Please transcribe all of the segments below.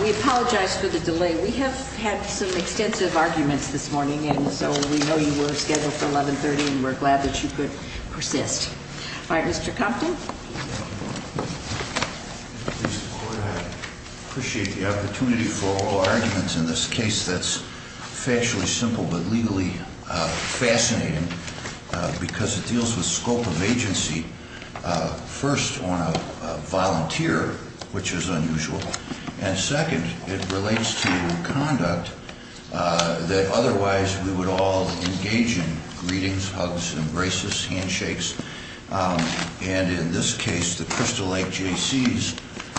We apologize for the delay. We have had some extensive arguments this morning, and so we know you were scheduled for 1130, and we're glad that you could persist. All right, Mr Compton. Appreciate the opportunity for oral arguments in this case that's factually simple but legally fascinating, because it deals with scope of agency. First, on a volunteer, which is unusual, and second, it relates to conduct that otherwise we would all engage in greetings, hugs, embraces, handshakes. And in this case, the Crystal Lake Jaycees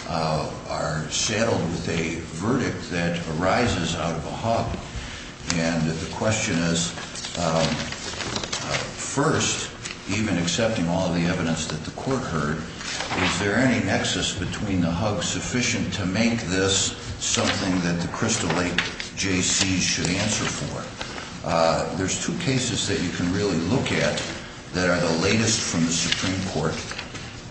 are saddled with a verdict that arises out of a hug. And the question is, first, even accepting all the evidence that the court heard, is there any nexus between the hug sufficient to make this something that the Crystal Lake Jaycees should answer for? There's two cases that you can really look at that are the latest from the Supreme Court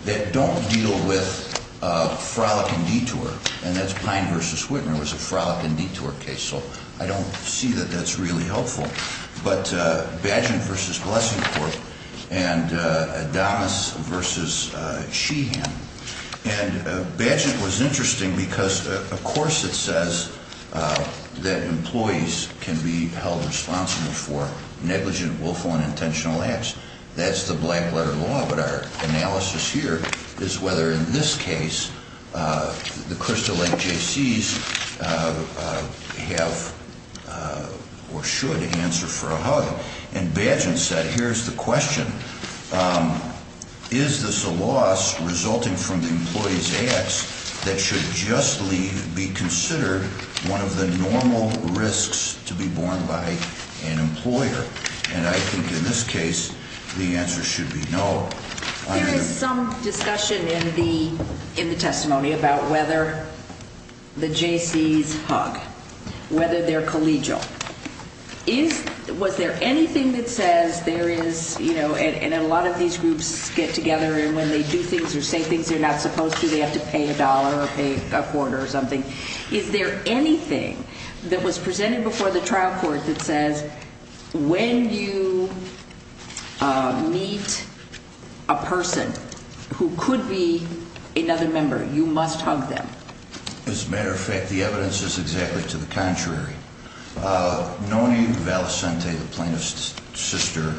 that don't deal with a frolic and detour, and that's Pine v. Whitmer was a frolic and detour case, so I don't see that that's really helpful. But Badgen v. Blessingport and Adames v. Sheehan, and Badgen was interesting because, of course, it says that employees can be held responsible for negligent, willful, and intentional acts. That's the black-letter law, but our analysis here is whether, in this case, the Crystal Lake Jaycees have or should answer for a hug. And Badgen said, here's the question. Is this a loss resulting from the employee's acts that should just be considered one of the normal risks to be borne by an employer? And I think, in this case, the answer should be no. When you meet a person who could be another member, you must hug them. As a matter of fact, the evidence is exactly to the contrary. Noni Valicente, the plaintiff's sister,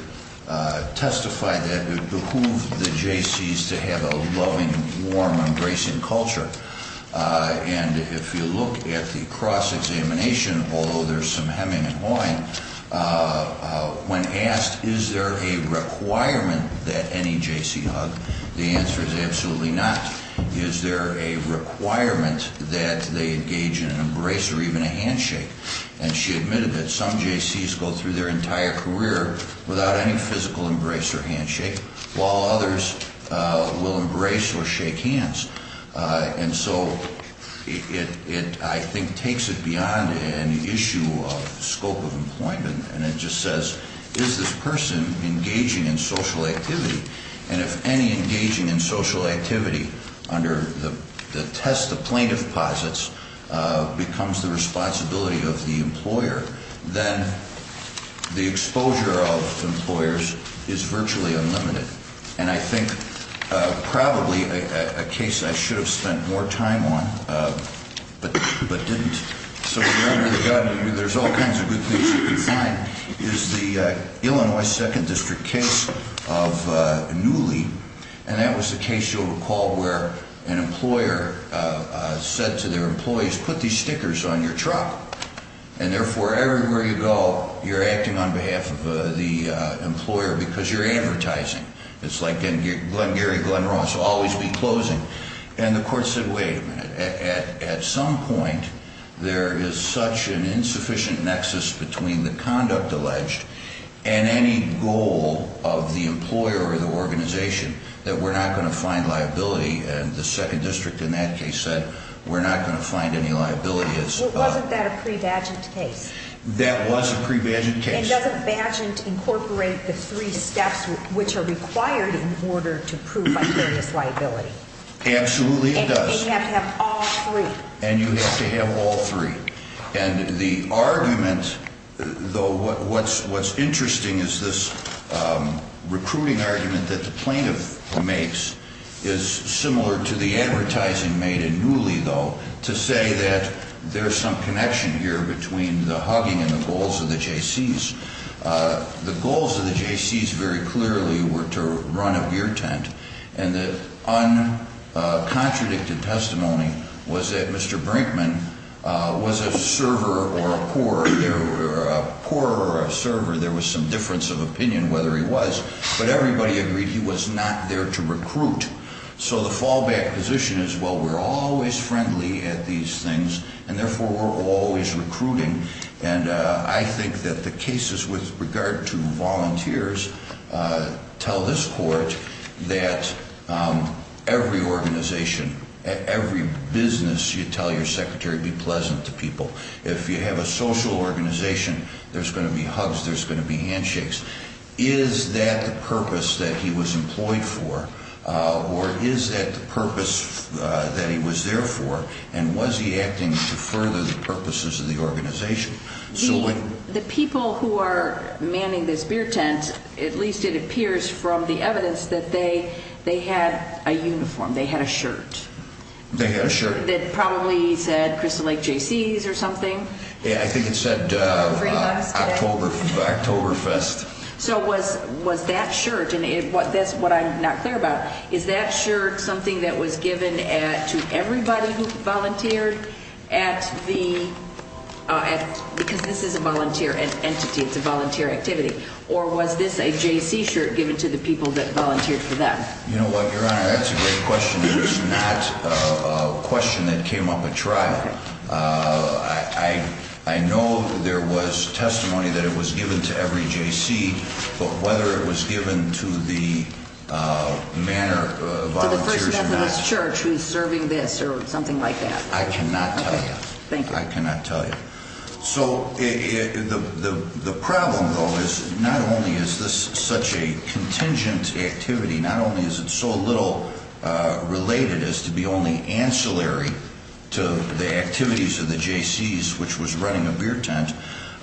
testified that it behooved the Jaycees to have a loving, warm, embracing culture. And if you look at the cross-examination, although there's some hemming and hawing, when asked, is there a requirement that any Jaycee hug, the answer is absolutely not. Is there a requirement that they engage in an embrace or even a handshake? And she admitted that some Jaycees go through their entire career without any physical embrace or handshake, while others will embrace or shake hands. And so it, I think, takes it beyond an issue of scope of employment, and it just says, is this person engaging in social activity? And if any engaging in social activity under the test the plaintiff posits becomes the responsibility of the employer, then the exposure of employers is virtually unlimited. And I think probably a case I should have spent more time on, but didn't, so we're under the gun, there's all kinds of good things you can find, is the Illinois 2nd District case of Newley. And that was the case, you'll recall, where an employer said to their employees, put these stickers on your truck, and therefore everywhere you go you're acting on behalf of the employer because you're advertising. It's like Gary Glenn Ross, always be closing. And the court said, wait a minute, at some point there is such an insufficient nexus between the conduct alleged and any goal of the employer or the organization that we're not going to find liability, and the 2nd District in that case said, we're not going to find any liability. Wasn't that a pre-badged case? That was a pre-badged case. And doesn't badgent incorporate the three steps which are required in order to prove unfairness liability? Absolutely it does. And you have to have all three. And the argument, though, what's interesting is this recruiting argument that the plaintiff makes is similar to the advertising made in Newley, though, to say that there's some connection here between the hugging and the goals of the JCs. The goals of the JCs very clearly were to run a gear tent, and the uncontradicted testimony was that Mr. Brinkman was a server or a pourer. A pourer or a server, there was some difference of opinion whether he was, but everybody agreed he was not there to recruit. So the fallback position is, well, we're always friendly at these things, and therefore we're always recruiting, and I think that the cases with regard to volunteers tell this court that every organization, every business you tell your secretary, be pleasant to people. If you have a social organization, there's going to be hugs, there's going to be handshakes. Is that the purpose that he was employed for, or is that the purpose that he was there for, and was he acting to further the purposes of the organization? The people who are manning this beer tent, at least it appears from the evidence, that they had a uniform. They had a shirt. They had a shirt. That probably said Crystal Lake JCs or something. Yeah, I think it said Octoberfest. So was that shirt, and that's what I'm not clear about, is that shirt something that was given to everybody who volunteered at the, because this is a volunteer entity, it's a volunteer activity, or was this a JC shirt given to the people that volunteered for them? You know what, Your Honor, that's a great question. It's not a question that came up at trial. I know there was testimony that it was given to every JC, but whether it was given to the man or volunteers or not. To the First Methodist Church who is serving this or something like that. I cannot tell you. Thank you. I cannot tell you. So the problem, though, is not only is this such a contingent activity, not only is it so little related as to be only ancillary to the activities of the JCs, which was running a beer tent.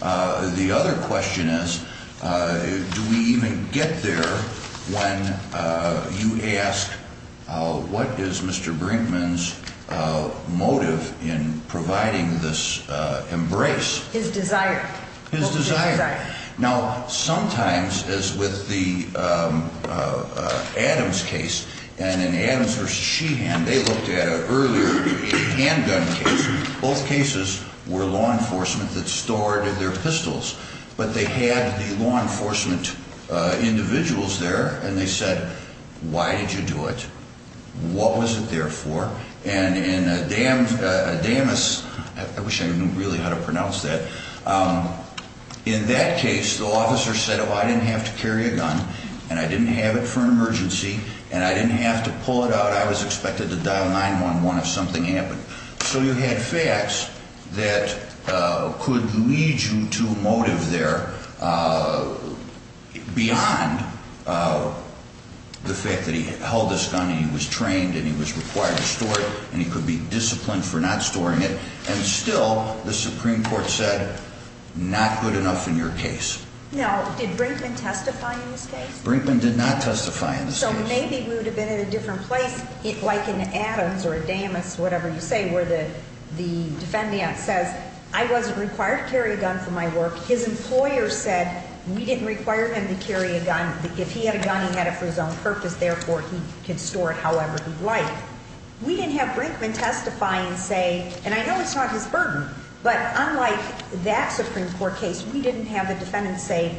The other question is, do we even get there when you ask, what is Mr. Brinkman's motive in providing this embrace? His desire. His desire. Now, sometimes, as with the Adams case, and in Adams v. Sheehan, they looked at an earlier handgun case. Both cases were law enforcement that stored their pistols. But they had the law enforcement individuals there, and they said, why did you do it? What was it there for? And in Adams, I wish I knew really how to pronounce that. In that case, the officer said, well, I didn't have to carry a gun, and I didn't have it for an emergency, and I didn't have to pull it out. I was expected to dial 911 if something happened. So you had facts that could lead you to motive there beyond the fact that he held this gun, and he was trained, and he was required to store it, and he could be disciplined for not storing it. And still, the Supreme Court said, not good enough in your case. Now, did Brinkman testify in this case? Brinkman did not testify in this case. So maybe we would have been in a different place, like in Adams or Damas, whatever you say, where the defendant says, I wasn't required to carry a gun for my work. His employer said, we didn't require him to carry a gun. If he had a gun, he had it for his own purpose. Therefore, he could store it however he'd like. We didn't have Brinkman testify and say, and I know it's not his burden, but unlike that Supreme Court case, we didn't have the defendant say,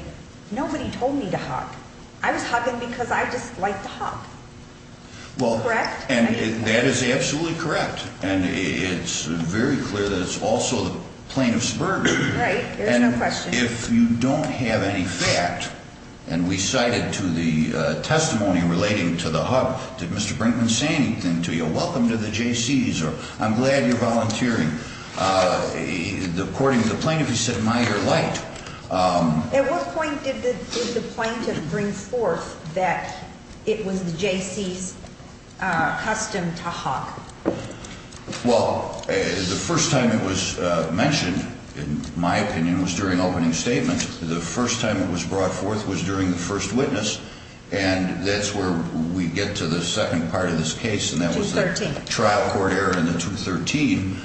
nobody told me to hug. I was hugging because I just like to hug. Correct? And that is absolutely correct. And it's very clear that it's also the plaintiff's burden. Right. There's no question. And if you don't have any fact, and we cited to the testimony relating to the hug, did Mr. Brinkman say anything to you? Welcome to the Jaycees, or I'm glad you're volunteering. According to the plaintiff, he said, am I your light? At what point did the plaintiff bring forth that it was the Jaycees' custom to hug? Well, the first time it was mentioned, in my opinion, was during opening statements. The first time it was brought forth was during the first witness, and that's where we get to the second part of this case, and that was the trial court error in the 213.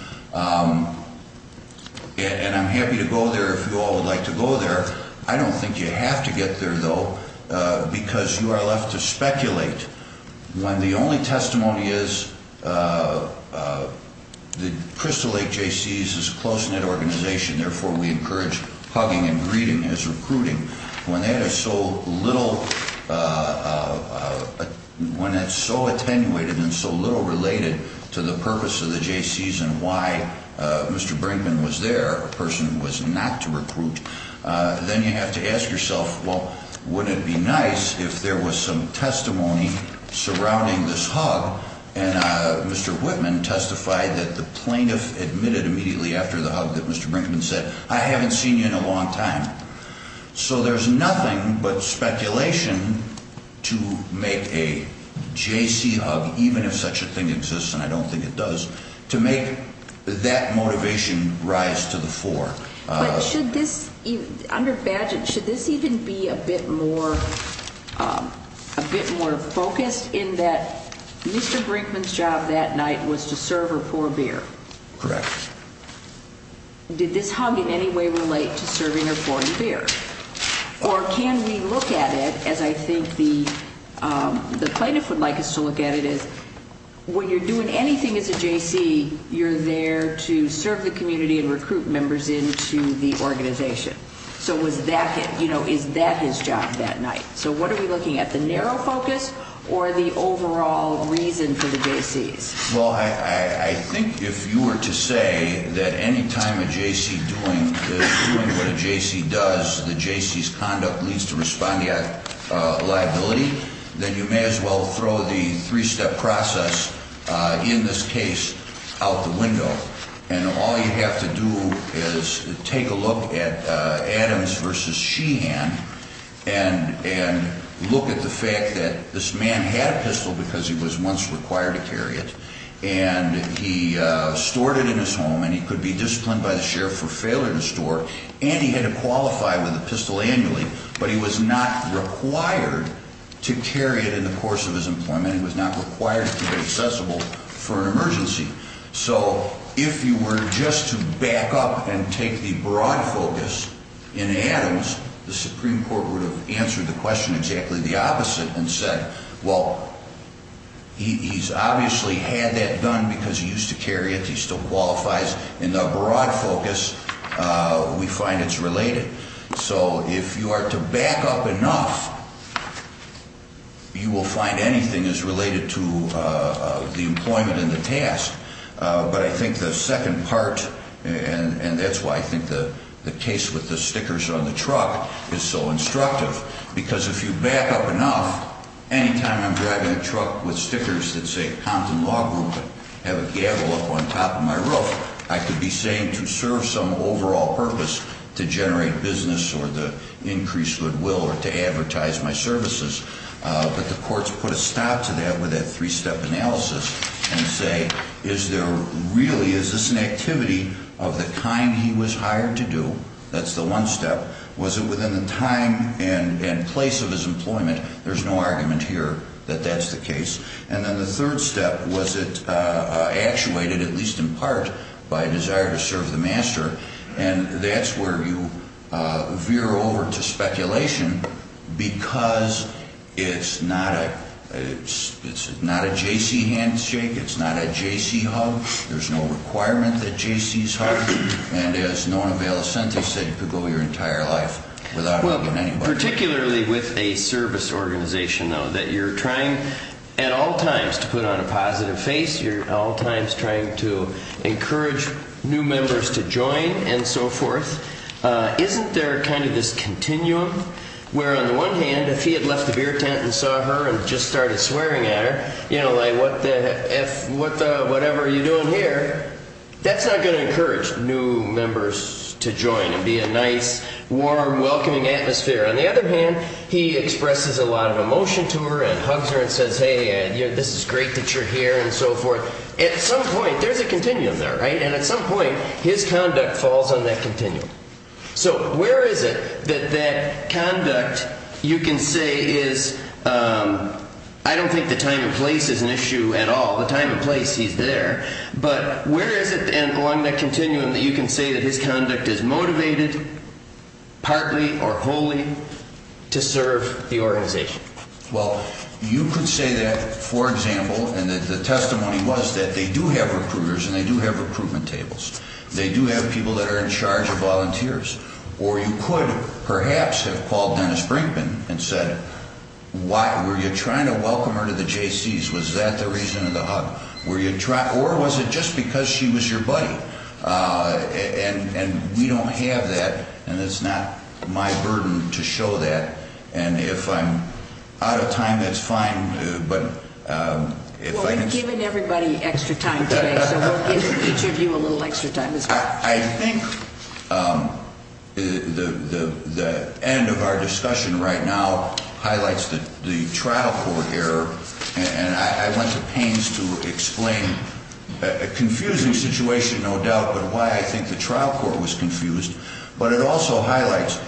And I'm happy to go there if you all would like to go there. I don't think you have to get there, though, because you are left to speculate. When the only testimony is the Crystal Lake Jaycees is a close-knit organization, therefore, we encourage hugging and greeting as recruiting. When that is so little, when it's so attenuated and so little related to the purpose of the Jaycees and why Mr. Brinkman was there, a person who was not to recruit, then you have to ask yourself, well, wouldn't it be nice if there was some testimony surrounding this hug, and Mr. Whitman testified that the plaintiff admitted immediately after the hug that Mr. Brinkman said, I haven't seen you in a long time. So there's nothing but speculation to make a Jaycee hug, even if such a thing exists, and I don't think it does, to make that motivation rise to the fore. But should this, under badgent, should this even be a bit more focused in that Mr. Brinkman's job that night was to serve or pour beer? Correct. Did this hug in any way relate to serving or pouring beer? Or can we look at it as I think the plaintiff would like us to look at it as when you're doing anything as a Jaycee, you're there to serve the community and recruit members into the organization. So is that his job that night? So what are we looking at, the narrow focus or the overall reason for the Jaycees? Well, I think if you were to say that any time a Jaycee is doing what a Jaycee does, the Jaycee's conduct leads to respondeat liability, then you may as well throw the three-step process in this case out the window. And all you have to do is take a look at Adams v. Sheehan and look at the fact that this man had a pistol because he was once required to carry it, and he stored it in his home, and he could be disciplined by the sheriff for failure to store. And he had to qualify with a pistol annually, but he was not required to carry it in the course of his employment. He was not required to be accessible for an emergency. So if you were just to back up and take the broad focus in Adams, the Supreme Court would have answered the question exactly the opposite and said, well, he's obviously had that done because he used to carry it, he still qualifies. In the broad focus, we find it's related. So if you are to back up enough, you will find anything is related to the employment and the task. But I think the second part, and that's why I think the case with the stickers on the truck is so instructive, because if you back up enough, any time I'm driving a truck with stickers that say Compton Law Group and have a gavel up on top of my roof, I could be saying to serve some overall purpose to generate business or to increase goodwill or to advertise my services. But the courts put a stop to that with a three-step analysis and say, is there really, is this an activity of the kind he was hired to do? That's the one step. Was it within the time and place of his employment? There's no argument here that that's the case. And then the third step, was it actuated, at least in part, by a desire to serve the master? And that's where you veer over to speculation because it's not a J.C. handshake, it's not a J.C. hug. There's no requirement that J.C.s hug. And as Nona Valicente said, you could go your entire life without hugging anybody. Particularly with a service organization, though, that you're trying at all times to put on a positive face, you're at all times trying to encourage new members to join and so forth. Isn't there kind of this continuum where, on the one hand, if he had left the beer tent and saw her and just started swearing at her, whatever you're doing here, that's not going to encourage new members to join and be a nice, warm, welcoming atmosphere. On the other hand, he expresses a lot of emotion to her and hugs her and says, hey, this is great that you're here and so forth. At some point, there's a continuum there, right? And at some point, his conduct falls on that continuum. So where is it that that conduct, you can say, is, I don't think the time and place is an issue at all. The time and place, he's there. But where is it, along that continuum, that you can say that his conduct is motivated, partly or wholly, to serve the organization? Well, you could say that, for example, and the testimony was that they do have recruiters and they do have recruitment tables. They do have people that are in charge of volunteers. Or you could perhaps have called Dennis Brinkman and said, were you trying to welcome her to the Jaycees? Was that the reason of the hug? Or was it just because she was your buddy? And we don't have that, and it's not my burden to show that. And if I'm out of time, that's fine. Well, we've given everybody extra time today, so we'll give each of you a little extra time as well. I think the end of our discussion right now highlights the trial court error. And I went to pains to explain a confusing situation, no doubt, but why I think the trial court was confused. But it also highlights,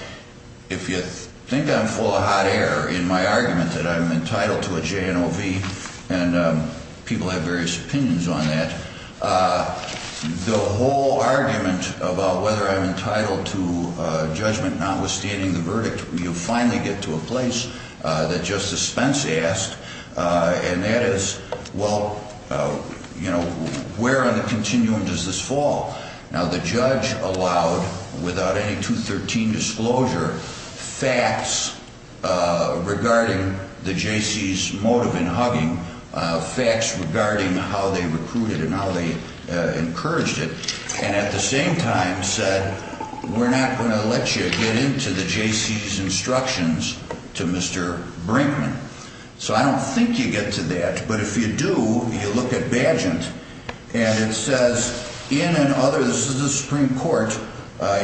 if you think I'm full of hot air in my argument that I'm entitled to a JNOV, and people have various opinions on that, the whole argument about whether I'm entitled to judgment notwithstanding the verdict, you finally get to a place that Justice Spence asked, and that is, well, you know, where on the continuum does this fall? Now, the judge allowed, without any 213 disclosure, facts regarding the Jaycees' motive in hugging, facts regarding how they recruited and how they encouraged it, and at the same time said, we're not going to let you get into the Jaycees' instructions to Mr. Brinkman. So I don't think you get to that. But if you do, you look at Badgent, and it says, in an other, this is the Supreme Court,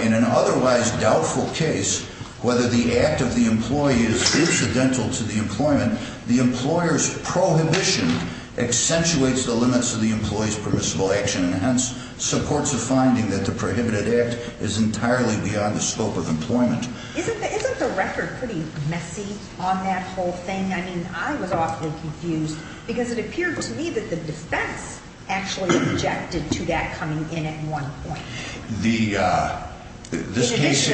in an otherwise doubtful case, whether the act of the employee is incidental to the employment, the employer's prohibition accentuates the limits of the employee's permissible action, and hence supports a finding that the prohibited act is entirely beyond the scope of employment. Isn't the record pretty messy on that whole thing? I mean, I was awfully confused, because it appeared to me that the defense actually objected to that coming in at one point. This case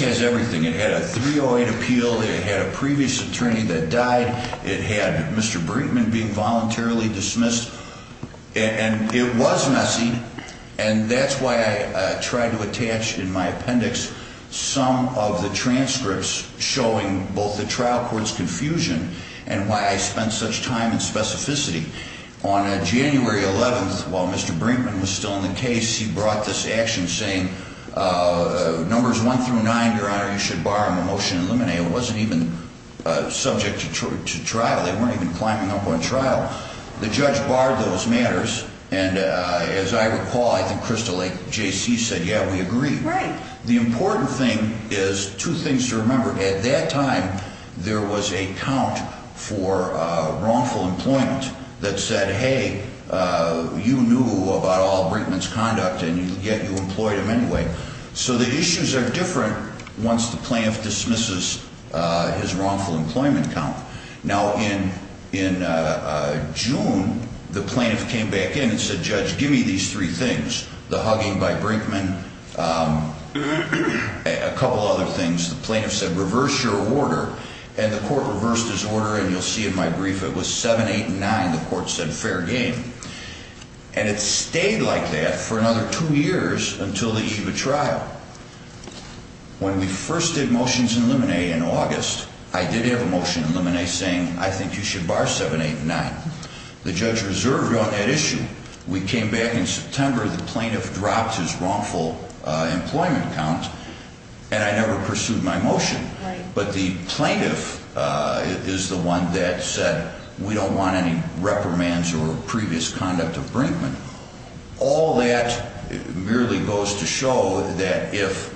has everything. It had a 308 appeal. It had a previous attorney that died. It had Mr. Brinkman being voluntarily dismissed, and it was messy, and that's why I tried to attach in my appendix some of the transcripts showing both the trial court's confusion and why I spent such time in specificity. On January 11th, while Mr. Brinkman was still in the case, he brought this action saying, numbers one through nine, Your Honor, you should bar him from motion to eliminate. It wasn't even subject to trial. They weren't even climbing up on trial. The judge barred those matters, and as I recall, I think Crystal Lake, J.C., said, yeah, we agree. Right. The important thing is two things to remember. At that time, there was a count for wrongful employment that said, hey, you knew about all Brinkman's conduct, and yet you employed him anyway. So the issues are different once the plaintiff dismisses his wrongful employment count. Now, in June, the plaintiff came back in and said, Judge, give me these three things, the hugging by Brinkman, a couple other things. The plaintiff said, reverse your order, and the court reversed his order, and you'll see in my brief it was 7-8-9. The court said, fair game. And it stayed like that for another two years until the eve of trial. When we first did motions in limine in August, I did have a motion in limine saying, I think you should bar 7-8-9. The judge reserved on that issue. We came back in September. The plaintiff dropped his wrongful employment count, and I never pursued my motion. But the plaintiff is the one that said, we don't want any reprimands or previous conduct of Brinkman. All that merely goes to show that if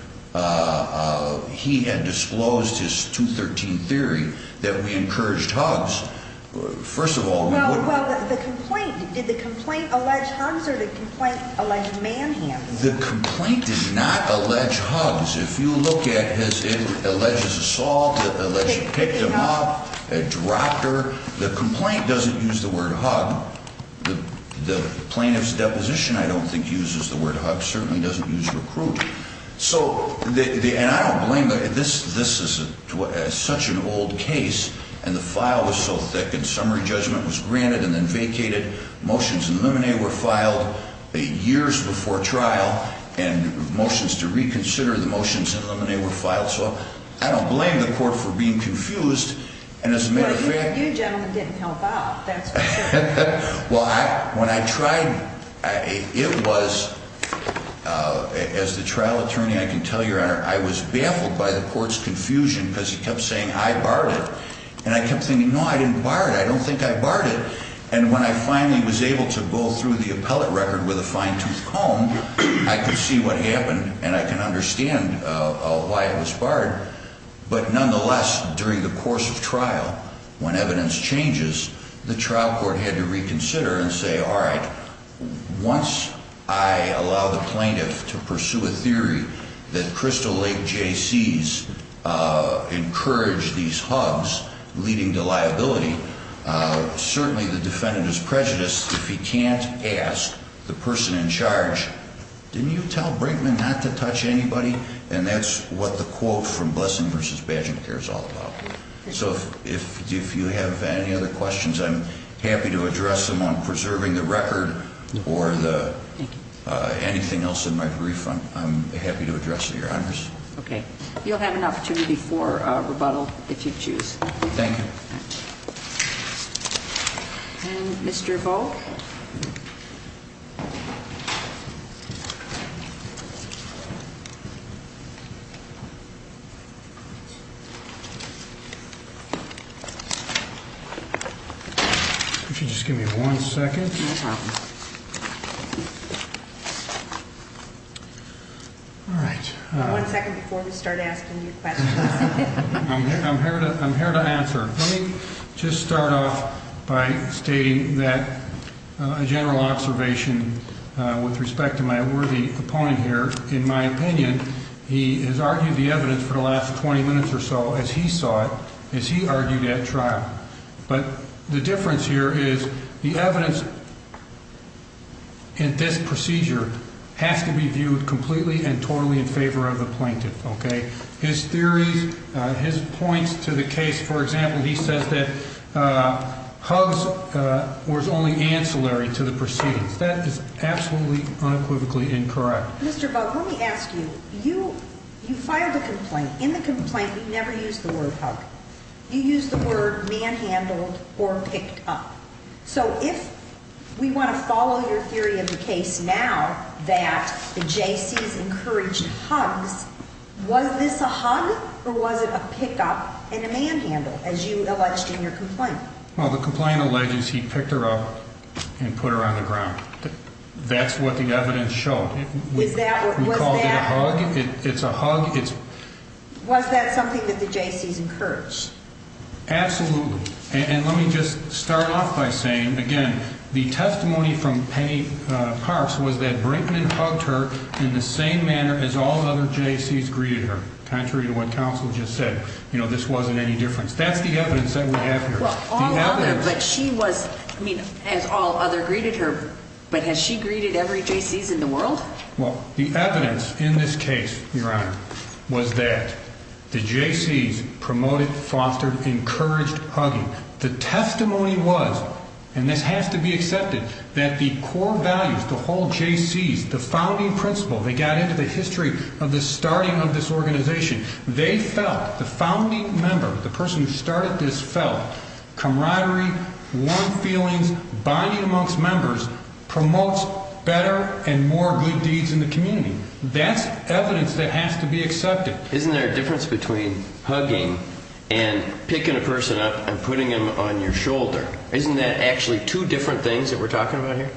he had disclosed his 213 theory that we encouraged hugs, first of all, we wouldn't have. Well, the complaint, did the complaint allege hugs, or did the complaint allege manhandling? The complaint did not allege hugs. If you look at his alleged assault, alleged picked him up, dropped her, the complaint doesn't use the word hug. The plaintiff's deposition, I don't think, uses the word hug. It certainly doesn't use recruit. So, and I don't blame, this is such an old case, and the file was so thick, and summary judgment was granted and then vacated. Motions in limine were filed years before trial, and motions to reconsider the motions in limine were filed. So, I don't blame the court for being confused. Well, you gentlemen didn't help out, that's for sure. Well, when I tried, it was, as the trial attorney, I can tell you, I was baffled by the court's confusion because he kept saying, I barred it. And I kept thinking, no, I didn't bar it, I don't think I barred it. And when I finally was able to go through the appellate record with a fine-tooth comb, I could see what happened, and I can understand why it was barred. But nonetheless, during the course of trial, when evidence changes, the trial court had to reconsider and say, all right, once I allow the plaintiff to pursue a theory that Crystal Lake Jaycees encouraged these hugs, leading to liability, certainly the defendant is prejudiced if he can't ask the person in charge, didn't you tell Brinkman not to touch anybody? And that's what the quote from Blessing v. Badging Care is all about. So, if you have any other questions, I'm happy to address them on preserving the record or anything else in my brief. I'm happy to address your honors. Okay. You'll have an opportunity for rebuttal if you choose. Thank you. And Mr. Volk? Would you just give me one second? No problem. All right. One second before we start asking you questions. I'm here to answer. Let me just start off by stating that a general observation with respect to my worthy opponent here. In my opinion, he has argued the evidence for the last 20 minutes or so, as he saw it, as he argued at trial. But the difference here is the evidence in this procedure has to be viewed completely and totally in favor of the plaintiff, okay? His theories, his points to the case, for example, he says that Huggs was only ancillary to the proceedings. That is absolutely, unequivocally incorrect. Mr. Volk, let me ask you. You filed a complaint. In the complaint, you never used the word Hugg. You used the word manhandled or picked up. So if we want to follow your theory of the case now that the JCs encouraged Huggs, was this a hug or was it a pick up and a manhandle, as you alleged in your complaint? Well, the complaint alleges he picked her up and put her on the ground. That's what the evidence showed. Was that what was that? We called it a hug. It's a hug. Was that something that the JCs encouraged? Absolutely. And let me just start off by saying, again, the testimony from Penny Parks was that Brinkman hugged her in the same manner as all other JCs greeted her, contrary to what counsel just said. You know, this wasn't any different. That's the evidence that we have here. Well, all other, but she was, I mean, as all other greeted her, but has she greeted every JCs in the world? Well, the evidence in this case, Your Honor, was that the JCs promoted, fostered, encouraged hugging. The testimony was, and this has to be accepted, that the core values, the whole JCs, the founding principle, they got into the history of the starting of this organization. They felt, the founding member, the person who started this felt camaraderie, warm feelings, bonding amongst members promotes better and more good deeds in the community. That's evidence that has to be accepted. Isn't there a difference between hugging and picking a person up and putting them on your shoulder? Isn't that actually two different things that we're talking about here?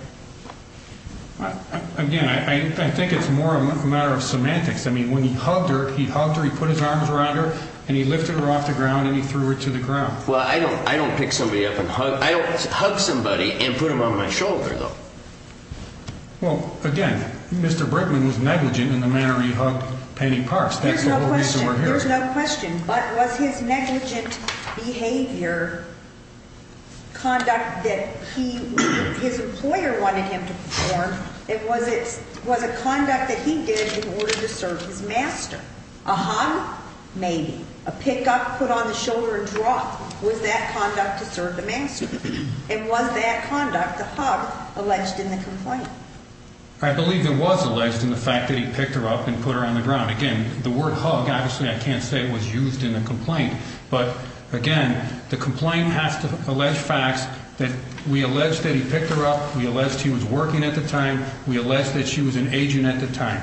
Again, I think it's more a matter of semantics. I mean, when he hugged her, he hugged her, he put his arms around her, and he lifted her off the ground, and he threw her to the ground. Well, I don't pick somebody up and hug. I don't hug somebody and put them on my shoulder, though. Well, again, Mr. Brickman was negligent in the manner he hugged Penny Parks. That's the whole reason we're here. There's no question. But was his negligent behavior, conduct that his employer wanted him to perform, was a conduct that he did in order to serve his master? A hug? Maybe. A pick up, put on the shoulder, and drop. Was that conduct to serve the master? And was that conduct, the hug, alleged in the complaint? I believe it was alleged in the fact that he picked her up and put her on the ground. Again, the word hug, obviously, I can't say it was used in the complaint. But, again, the complaint has to allege facts that we allege that he picked her up, we allege that he was working at the time, we allege that she was an agent at the time,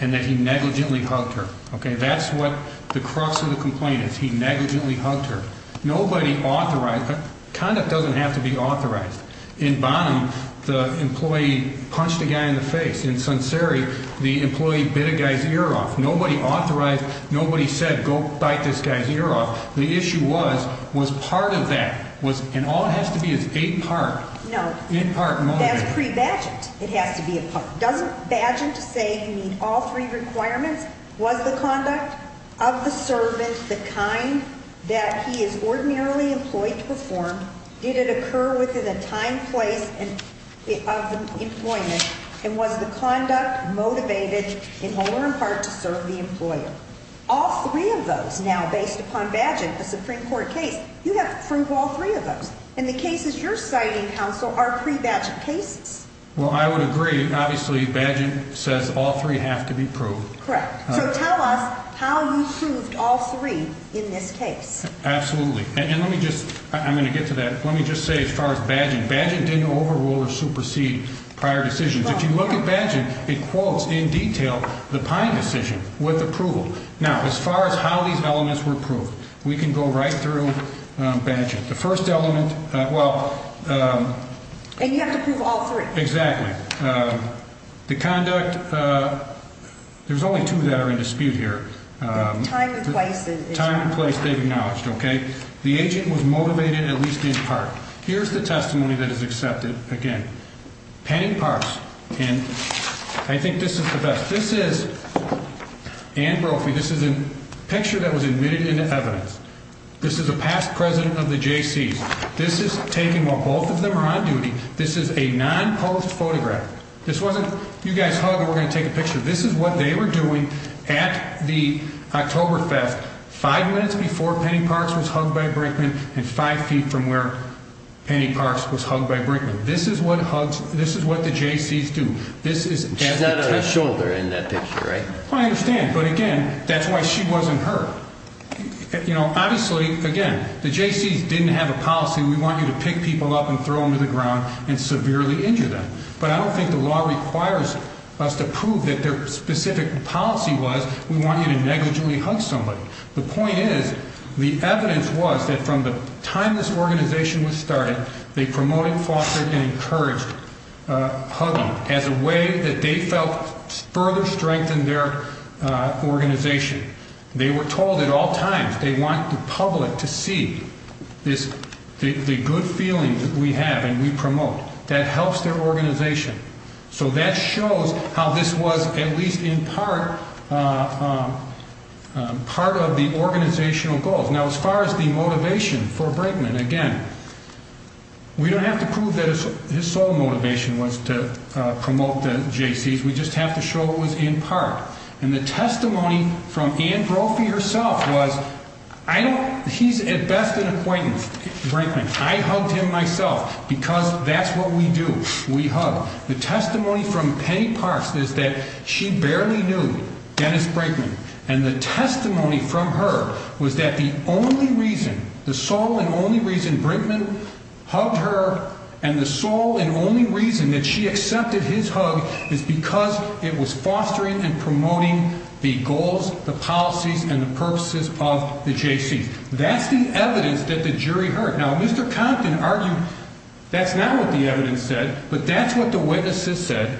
and that he negligently hugged her. Okay? That's what the crux of the complaint is. He negligently hugged her. Nobody authorized. Conduct doesn't have to be authorized. In Bonham, the employee punched a guy in the face. In Sonseri, the employee bit a guy's ear off. Nobody authorized. Nobody said, go bite this guy's ear off. The issue was, was part of that. And all it has to be is a part. No. In part, moment. That's pre-badged. It has to be a part. Doesn't badgent say you meet all three requirements? Was the conduct of the servant the kind that he is ordinarily employed to perform? Did it occur within the time, place of employment? And was the conduct motivated in whole or in part to serve the employer? All three of those now, based upon badgent, a Supreme Court case, you have to prove all three of those. And the cases you're citing, counsel, are pre-badged cases. Well, I would agree. Obviously, badgent says all three have to be proved. Correct. So tell us how you proved all three in this case. Absolutely. And let me just, I'm going to get to that. Let me just say as far as badgent, badgent didn't overrule or supersede prior decisions. If you look at badgent, it quotes in detail the Pine decision with approval. Now, as far as how these elements were proved, we can go right through badgent. The first element, well. And you have to prove all three. Exactly. The conduct, there's only two that are in dispute here. Time and place. Time and place they've acknowledged, okay? The agent was motivated at least in part. Here's the testimony that is accepted, again. Penn and Parks. And I think this is the best. This is Ann Brophy. This is a picture that was admitted into evidence. This is a past president of the Jaycees. This is taken while both of them are on duty. This is a non-posed photograph. This wasn't you guys hug and we're going to take a picture. This is what they were doing at the October theft five minutes before Penny Parks was hugged by Brinkman and five feet from where Penny Parks was hugged by Brinkman. This is what the Jaycees do. She's not on her shoulder in that picture, right? I understand. But, again, that's why she wasn't hurt. You know, obviously, again, the Jaycees didn't have a policy. We want you to pick people up and throw them to the ground and severely injure them. But I don't think the law requires us to prove that their specific policy was we want you to negligently hug somebody. The point is the evidence was that from the time this organization was started, they promoted, fostered, and encouraged hugging as a way that they felt further strengthened their organization. They were told at all times they want the public to see the good feelings we have and we promote. That helps their organization. So that shows how this was at least in part part of the organizational goals. Now, as far as the motivation for Brinkman, again, we don't have to prove that his sole motivation was to promote the Jaycees. We just have to show it was in part. And the testimony from Ann Brophy herself was I don't he's at best an acquaintance, Brinkman. I hugged him myself because that's what we do. We hug. The testimony from Penny Parks is that she barely knew Dennis Brinkman. And the testimony from her was that the only reason, the sole and only reason Brinkman hugged her, and the sole and only reason that she accepted his hug is because it was fostering and promoting the goals, the policies, and the purposes of the Jaycees. That's the evidence that the jury heard. Now, Mr. Compton argued that's not what the evidence said, but that's what the witnesses said,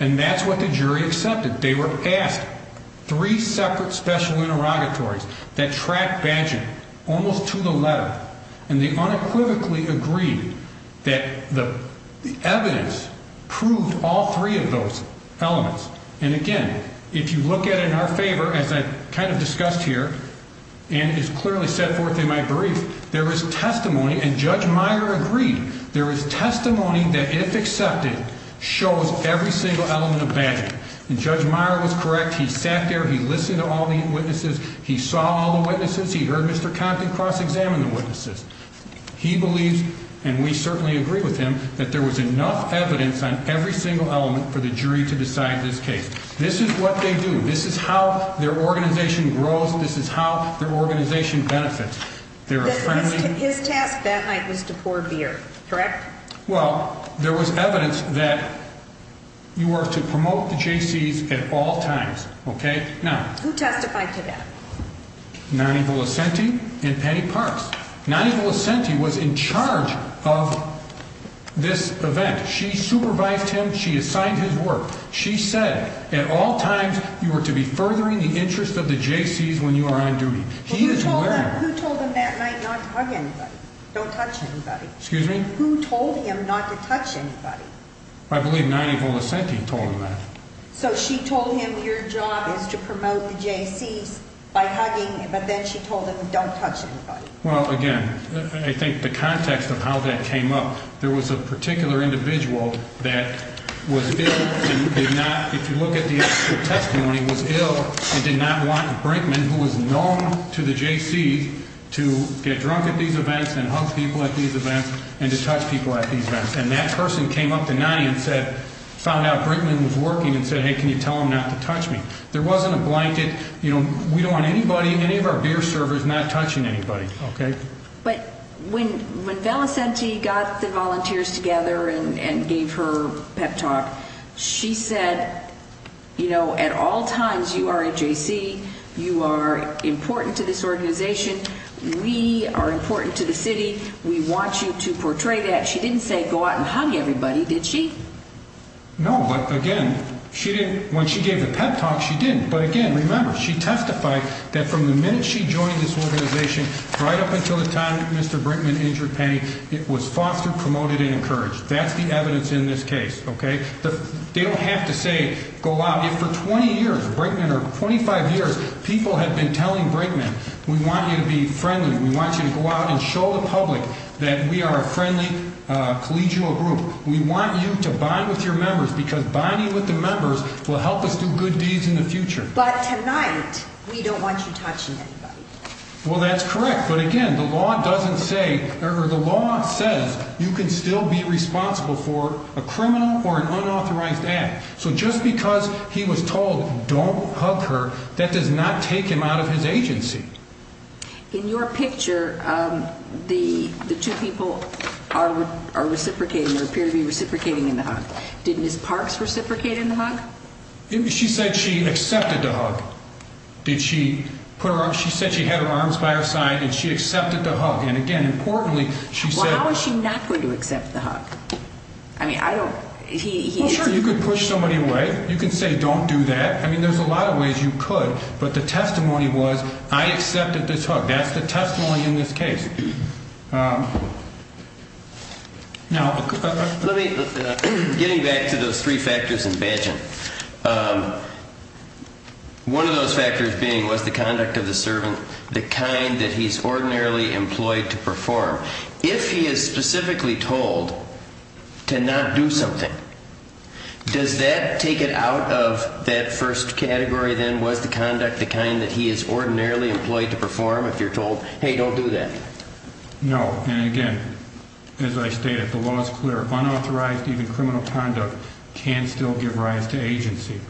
and that's what the jury accepted. They were asked three separate special interrogatories that tracked badging almost to the letter, and they unequivocally agreed that the evidence proved all three of those elements. And, again, if you look at it in our favor, as I kind of discussed here and is clearly set forth in my brief, there is testimony, and Judge Meyer agreed, there is testimony that, if accepted, shows every single element of badging. And Judge Meyer was correct. He sat there. He listened to all the witnesses. He saw all the witnesses. He heard Mr. Compton cross-examine the witnesses. He believes, and we certainly agree with him, that there was enough evidence on every single element for the jury to decide this case. This is what they do. This is how their organization grows. This is how their organization benefits. His task that night was to pour beer, correct? Well, there was evidence that you were to promote the Jaycees at all times. Okay? Who testified to that? Nonnie Villacenti and Penny Parks. Nonnie Villacenti was in charge of this event. She supervised him. She assigned his work. She said at all times you were to be furthering the interest of the Jaycees when you are on duty. Who told him that night not to hug anybody, don't touch anybody? Excuse me? Who told him not to touch anybody? I believe Nonnie Villacenti told him that. So she told him your job is to promote the Jaycees by hugging, but then she told him don't touch anybody. Well, again, I think the context of how that came up, there was a particular individual that was ill and did not, if you look at the actual testimony, was ill and did not want Brinkman, who was known to the Jaycees, to get drunk at these events and hug people at these events and to touch people at these events. And that person came up to Nonnie and said, found out Brinkman was working and said, hey, can you tell him not to touch me? There wasn't a blanket, you know, we don't want anybody, any of our beer servers not touching anybody. Okay? But when Villacenti got the volunteers together and gave her pep talk, she said, you know, at all times you are a Jaycee, you are important to this organization, we are important to the city, we want you to portray that. She didn't say go out and hug everybody, did she? No, but again, when she gave the pep talk, she didn't. But again, remember, she testified that from the minute she joined this organization right up until the time Mr. Brinkman injured Penny, it was fostered, promoted, and encouraged. That's the evidence in this case. Okay? They don't have to say go out. If for 20 years, Brinkman, or 25 years, people have been telling Brinkman, we want you to be friendly, we want you to go out and show the public that we are a friendly collegial group, we want you to bond with your members because bonding with the members will help us do good deeds in the future. But tonight, we don't want you touching anybody. Well, that's correct. But again, the law doesn't say, or the law says you can still be responsible for a criminal or an unauthorized act. So just because he was told don't hug her, that does not take him out of his agency. In your picture, the two people are reciprocating, or appear to be reciprocating in the hug. Did Ms. Parks reciprocate in the hug? She said she accepted the hug. She said she had her arms by her side and she accepted the hug. And again, importantly, she said... Well, how is she not going to accept the hug? I mean, I don't... Well, sure, you could push somebody away. You could say don't do that. I mean, there's a lot of ways you could. But the testimony was I accepted this hug. That's the testimony in this case. Getting back to those three factors in badging, one of those factors being was the conduct of the servant, the kind that he's ordinarily employed to perform. If he is specifically told to not do something, does that take it out of that first category then? Was the conduct the kind that he is ordinarily employed to perform if you're told, hey, don't do that? No. And again, as I stated, the law is clear. Unauthorized even criminal conduct can still give rise to agency.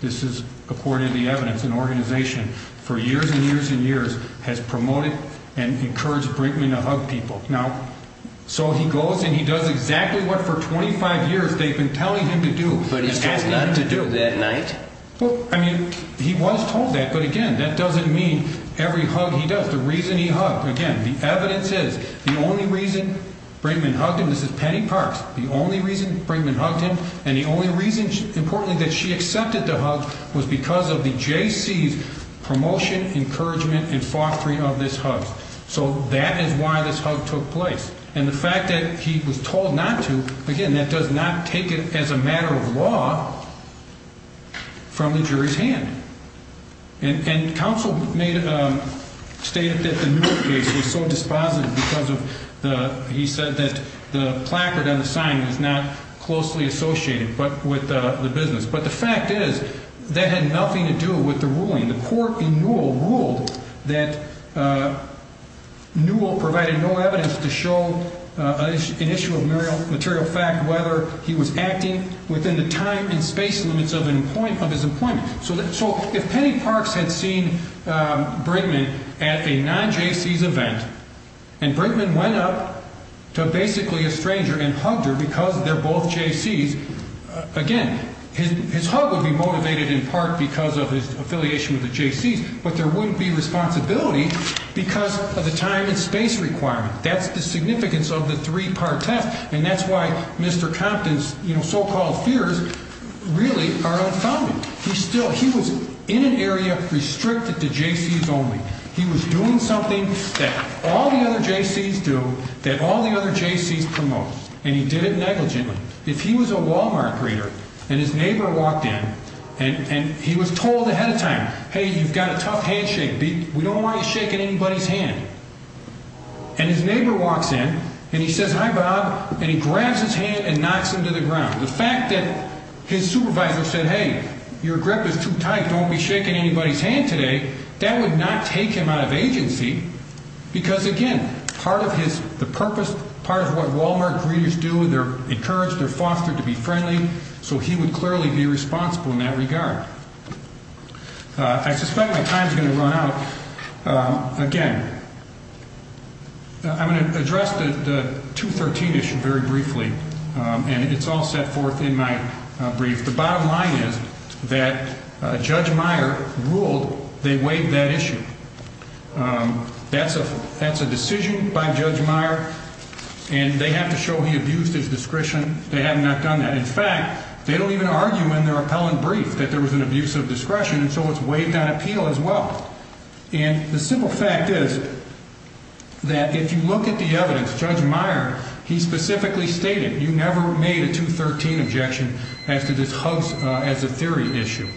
This is according to the evidence. An organization for years and years and years has promoted and encouraged Brinkman to hug people. Now, so he goes and he does exactly what for 25 years they've been telling him to do. But he's told not to do that night. Well, I mean, he was told that. But again, that doesn't mean every hug he does. The reason he hugged, again, the evidence says the only reason Brinkman hugged him, this is Penny Parks, the only reason Brinkman hugged him and the only reason, importantly, that she accepted the hug was because of the J.C.'s promotion, encouragement and fostering of this hug. So that is why this hug took place. And the fact that he was told not to, again, that does not take it as a matter of law from the jury's hand. And counsel stated that the Newell case was so dispositive because he said that the placard on the sign was not closely associated with the business. But the fact is that had nothing to do with the ruling. The court in Newell ruled that Newell provided no evidence to show an issue of material fact whether he was acting within the time and space limits of his employment. So if Penny Parks had seen Brinkman at a non-J.C.'s event and Brinkman went up to basically a stranger and hugged her because they're both J.C.'s, again, his hug would be motivated in part because of his affiliation with the J.C.'s, but there wouldn't be responsibility because of the time and space requirement. That's the significance of the three-part test. And that's why Mr. Compton's so-called fears really are unfounded. He was in an area restricted to J.C.'s only. He was doing something that all the other J.C.'s do, that all the other J.C.'s promote, and he did it negligently. If he was a Walmart greeter and his neighbor walked in and he was told ahead of time, hey, you've got a tough handshake. We don't want you shaking anybody's hand. And his neighbor walks in and he says, hi, Bob, and he grabs his hand and knocks him to the ground. The fact that his supervisor said, hey, your grip is too tight. Don't be shaking anybody's hand today. That would not take him out of agency because, again, part of his purpose, part of what Walmart greeters do, they're encouraged, they're fostered to be friendly. So he would clearly be responsible in that regard. I suspect my time is going to run out. Again, I'm going to address the 213 issue very briefly, and it's all set forth in my brief. The bottom line is that Judge Meyer ruled they waived that issue. That's a decision by Judge Meyer, and they have to show he abused his discretion. They have not done that. In fact, they don't even argue in their appellant brief that there was an abuse of discretion, and so it's waived on appeal as well. And the simple fact is that if you look at the evidence, Judge Meyer, he specifically stated you never made a 213 objection as to this hugs as a theory issue.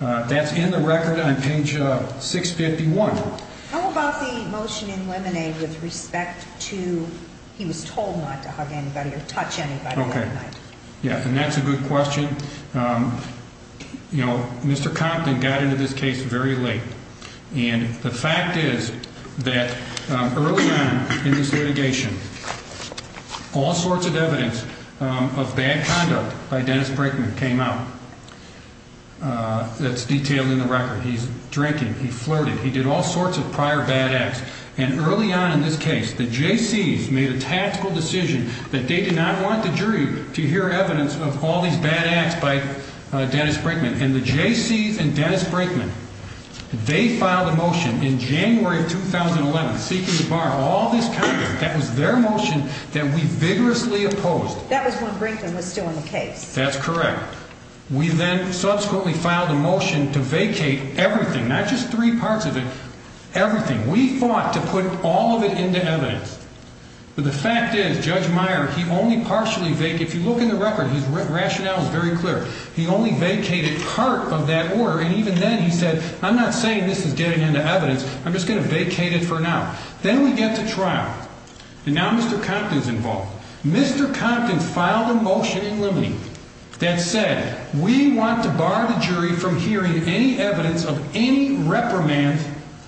That's in the record on page 651. How about the motion in Lemonade with respect to he was told not to hug anybody or touch anybody that night? Yeah, and that's a good question. You know, Mr. Compton got into this case very late. And the fact is that early on in this litigation, all sorts of evidence of bad conduct by Dennis Brinkman came out. That's detailed in the record. He's drinking. He flirted. He did all sorts of prior bad acts. And early on in this case, the Jaycees made a tactical decision that they did not want the jury to hear evidence of all these bad acts by Dennis Brinkman. And the Jaycees and Dennis Brinkman, they filed a motion in January of 2011 seeking to bar all this conduct. That was their motion that we vigorously opposed. That was when Brinkman was still in the case. That's correct. We then subsequently filed a motion to vacate everything, not just three parts of it, everything. We fought to put all of it into evidence. But the fact is, Judge Meyer, he only partially vacated. If you look in the record, his rationale is very clear. He only vacated part of that order. And even then he said, I'm not saying this is getting into evidence. I'm just going to vacate it for now. Then we get to trial. And now Mr. Compton's involved. Mr. Compton filed a motion in limine that said we want to bar the jury from hearing any evidence of any reprimand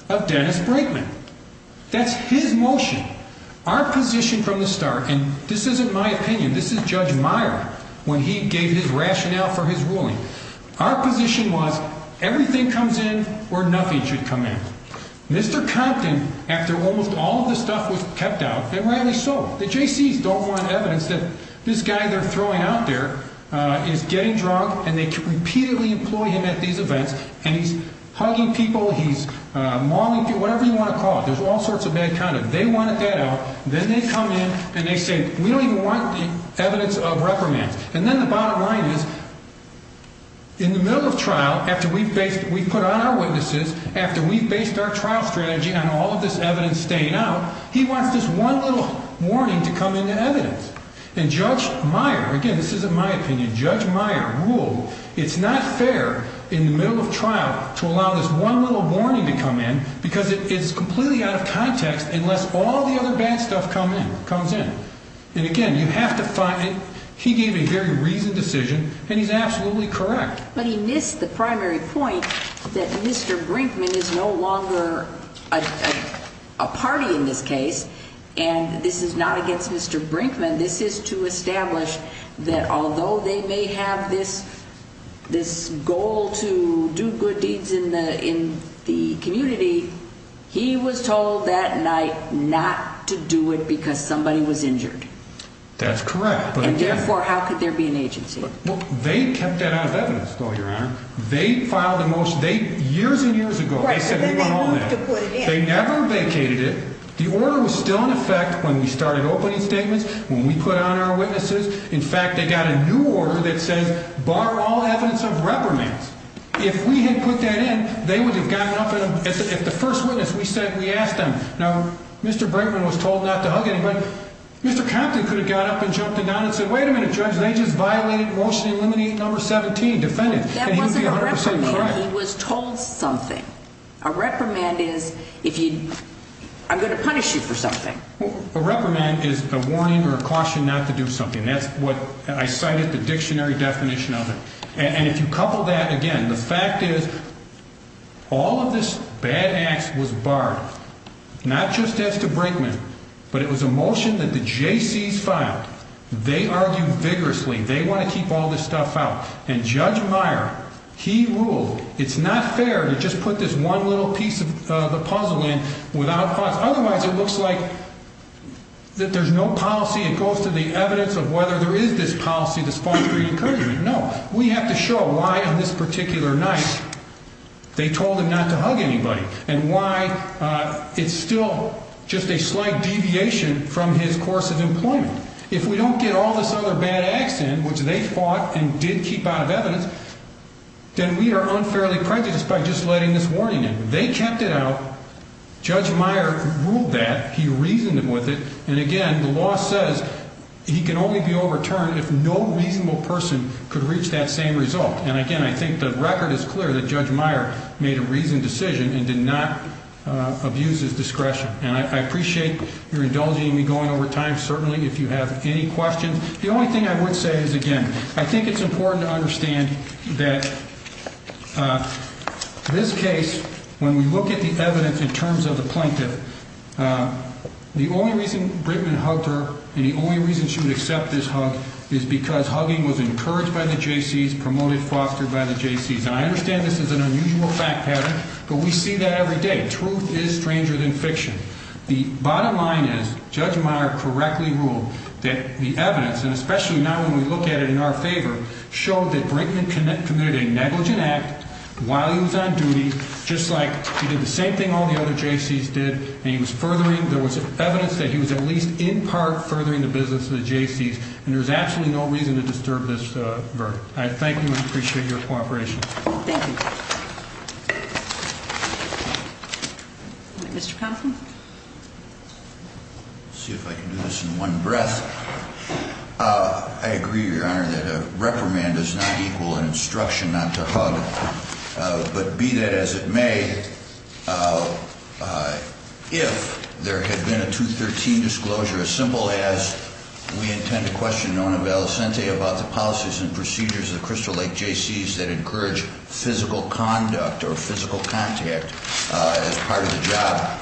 of Dennis Brinkman. That's his motion. Our position from the start, and this isn't my opinion. This is Judge Meyer when he gave his rationale for his ruling. Our position was everything comes in or nothing should come in. Mr. Compton, after almost all of the stuff was kept out, and rightly so. The JCs don't want evidence that this guy they're throwing out there is getting drunk and they repeatedly employ him at these events. And he's hugging people, he's mauling people, whatever you want to call it. There's all sorts of bad conduct. They wanted that out. Then they come in and they say, we don't even want evidence of reprimand. And then the bottom line is, in the middle of trial, after we've put on our witnesses, after we've based our trial strategy on all of this evidence staying out, he wants this one little warning to come into evidence. And Judge Meyer, again this isn't my opinion, Judge Meyer ruled it's not fair in the middle of trial to allow this one little warning to come in because it is completely out of context unless all the other bad stuff comes in. And again, you have to find, he gave a very reasoned decision and he's absolutely correct. But he missed the primary point that Mr. Brinkman is no longer a party in this case and this is not against Mr. Brinkman. This is to establish that although they may have this goal to do good deeds in the community, he was told that night not to do it because somebody was injured. That's correct. And therefore, how could there be an agency? They kept that out of evidence, though, Your Honor. They filed a motion, years and years ago, they said we want all that. Right, but then they moved to put it in. They never vacated it. The order was still in effect when we started opening statements, when we put on our witnesses. In fact, they got a new order that says borrow all evidence of reprimands. If we had put that in, they would have gotten up at the first witness. We said, we asked them. Now, Mr. Brinkman was told not to hug anybody. Mr. Compton could have got up and jumped the gun and said, wait a minute, Judge, they just violated motion eliminate number 17, defendant. That wasn't a reprimand. He was told something. A reprimand is if you, I'm going to punish you for something. A reprimand is a warning or a caution not to do something. That's what I cited the dictionary definition of it. And if you couple that again, the fact is all of this bad acts was barred, not just as to Brinkman, but it was a motion that the JCs filed. They argued vigorously. They want to keep all this stuff out. And Judge Meyer, he ruled it's not fair to just put this one little piece of the puzzle in without otherwise. It looks like. That there's no policy. It goes to the evidence of whether there is this policy, this policy. No, we have to show why on this particular night. They told him not to hug anybody and why it's still just a slight deviation from his course of employment. If we don't get all this other bad accident, which they fought and did keep out of evidence. Then we are unfairly prejudiced by just letting this warning in. They kept it out. Judge Meyer ruled that he reasoned with it. And again, the law says he can only be overturned if no reasonable person could reach that same result. And again, I think the record is clear that Judge Meyer made a reasoned decision and did not abuse his discretion. And I appreciate your indulging me going over time. Certainly, if you have any questions. The only thing I would say is, again, I think it's important to understand that. This case, when we look at the evidence in terms of the plaintiff. The only reason Brinkman hugged her and the only reason she would accept this hug is because hugging was encouraged by the Jaycees, promoted, fostered by the Jaycees. And I understand this is an unusual fact pattern, but we see that every day. Truth is stranger than fiction. The bottom line is, Judge Meyer correctly ruled that the evidence, and especially now when we look at it in our favor, showed that Brinkman committed a negligent act while he was on duty, just like he did the same thing all the other Jaycees did. And he was furthering, there was evidence that he was at least in part furthering the business of the Jaycees. And there's absolutely no reason to disturb this verdict. I thank you and appreciate your cooperation. Thank you. Mr. Conflin. Let's see if I can do this in one breath. I agree, Your Honor, that a reprimand does not equal an instruction not to hug. But be that as it may, if there had been a 213 disclosure, as simple as we intend to question Nona Valicente about the policies and procedures of the Crystal Lake Jaycees that encourage physical conduct or physical contact as part of the job,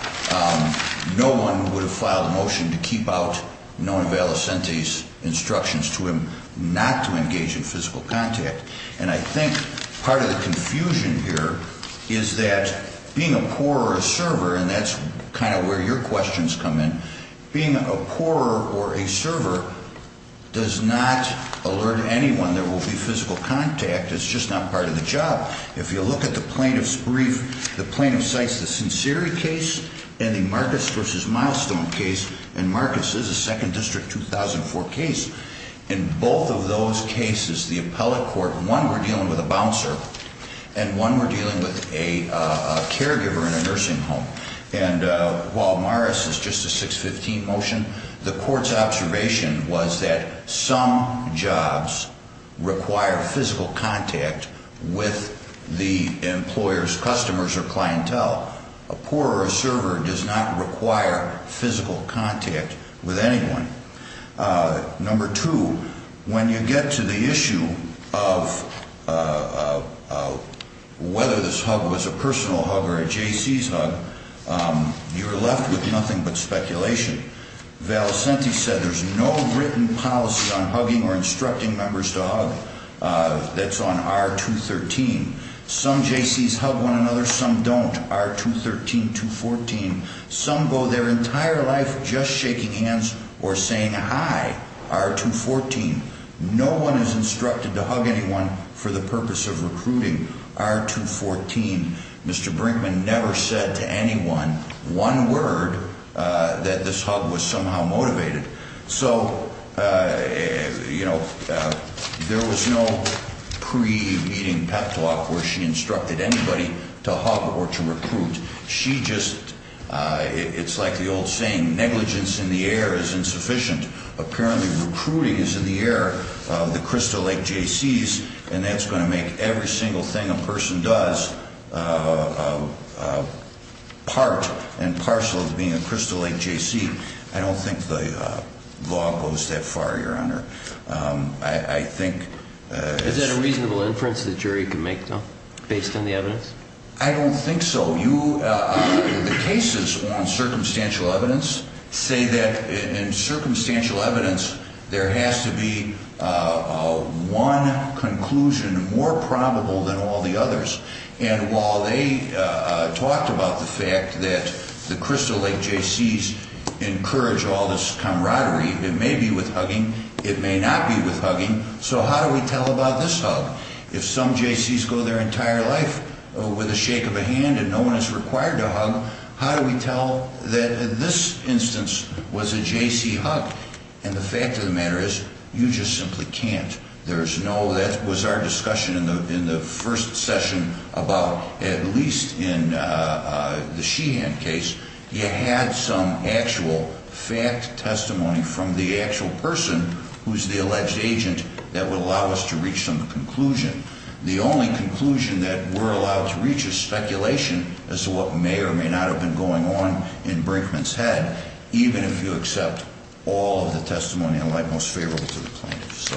no one would have filed a motion to keep out Nona Valicente's instructions to him not to engage in physical contact. And I think part of the confusion here is that being a poor server, and that's kind of where your questions come in, being a poor or a server does not alert anyone there will be physical contact. It's just not part of the job. If you look at the plaintiff's brief, the plaintiff cites the Sinceri case and the Marcus v. Milestone case, and Marcus is a 2nd District 2004 case. In both of those cases, the appellate court, one we're dealing with a bouncer and one we're dealing with a caregiver in a nursing home. And while Morris is just a 615 motion, the court's observation was that some jobs require physical contact with the employer's customers or clientele. A poor server does not require physical contact with anyone. Number two, when you get to the issue of whether this hug was a personal hug or a J.C.'s hug, you're left with nothing but speculation. Valicente said there's no written policy on hugging or instructing members to hug that's on R213. Some J.C.'s hug one another, some don't, R213, 214. Some go their entire life just shaking hands or saying hi, R214. No one is instructed to hug anyone for the purpose of recruiting, R214. Mr. Brinkman never said to anyone one word that this hug was somehow motivated. So, you know, there was no pre-meeting pep talk where she instructed anybody to hug or to recruit. She just, it's like the old saying, negligence in the air is insufficient. Apparently recruiting is in the air of the Crystal Lake J.C.'s, and that's going to make every single thing a person does part and parcel of being a Crystal Lake J.C. I don't think the law goes that far, Your Honor. I think... Is that a reasonable inference the jury can make, though, based on the evidence? I don't think so. The cases on circumstantial evidence say that in circumstantial evidence, there has to be one conclusion more probable than all the others. And while they talked about the fact that the Crystal Lake J.C.'s encourage all this camaraderie, it may be with hugging, it may not be with hugging. So how do we tell about this hug? If some J.C.'s go their entire life with a shake of a hand and no one is required to hug, how do we tell that this instance was a J.C. hug? And the fact of the matter is, you just simply can't. There's no... That was our discussion in the first session about, at least in the Sheehan case, you had some actual fact testimony from the actual person who's the alleged agent that would allow us to reach some conclusion. The only conclusion that we're allowed to reach is speculation as to what may or may not have been going on in Brinkman's head, even if you accept all of the testimony in light most favorable to the plaintiff. So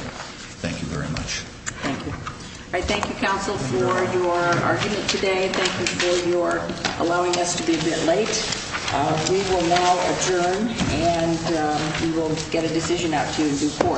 thank you very much. Thank you. All right, thank you, counsel, for your argument today. Thank you for your allowing us to be a bit late.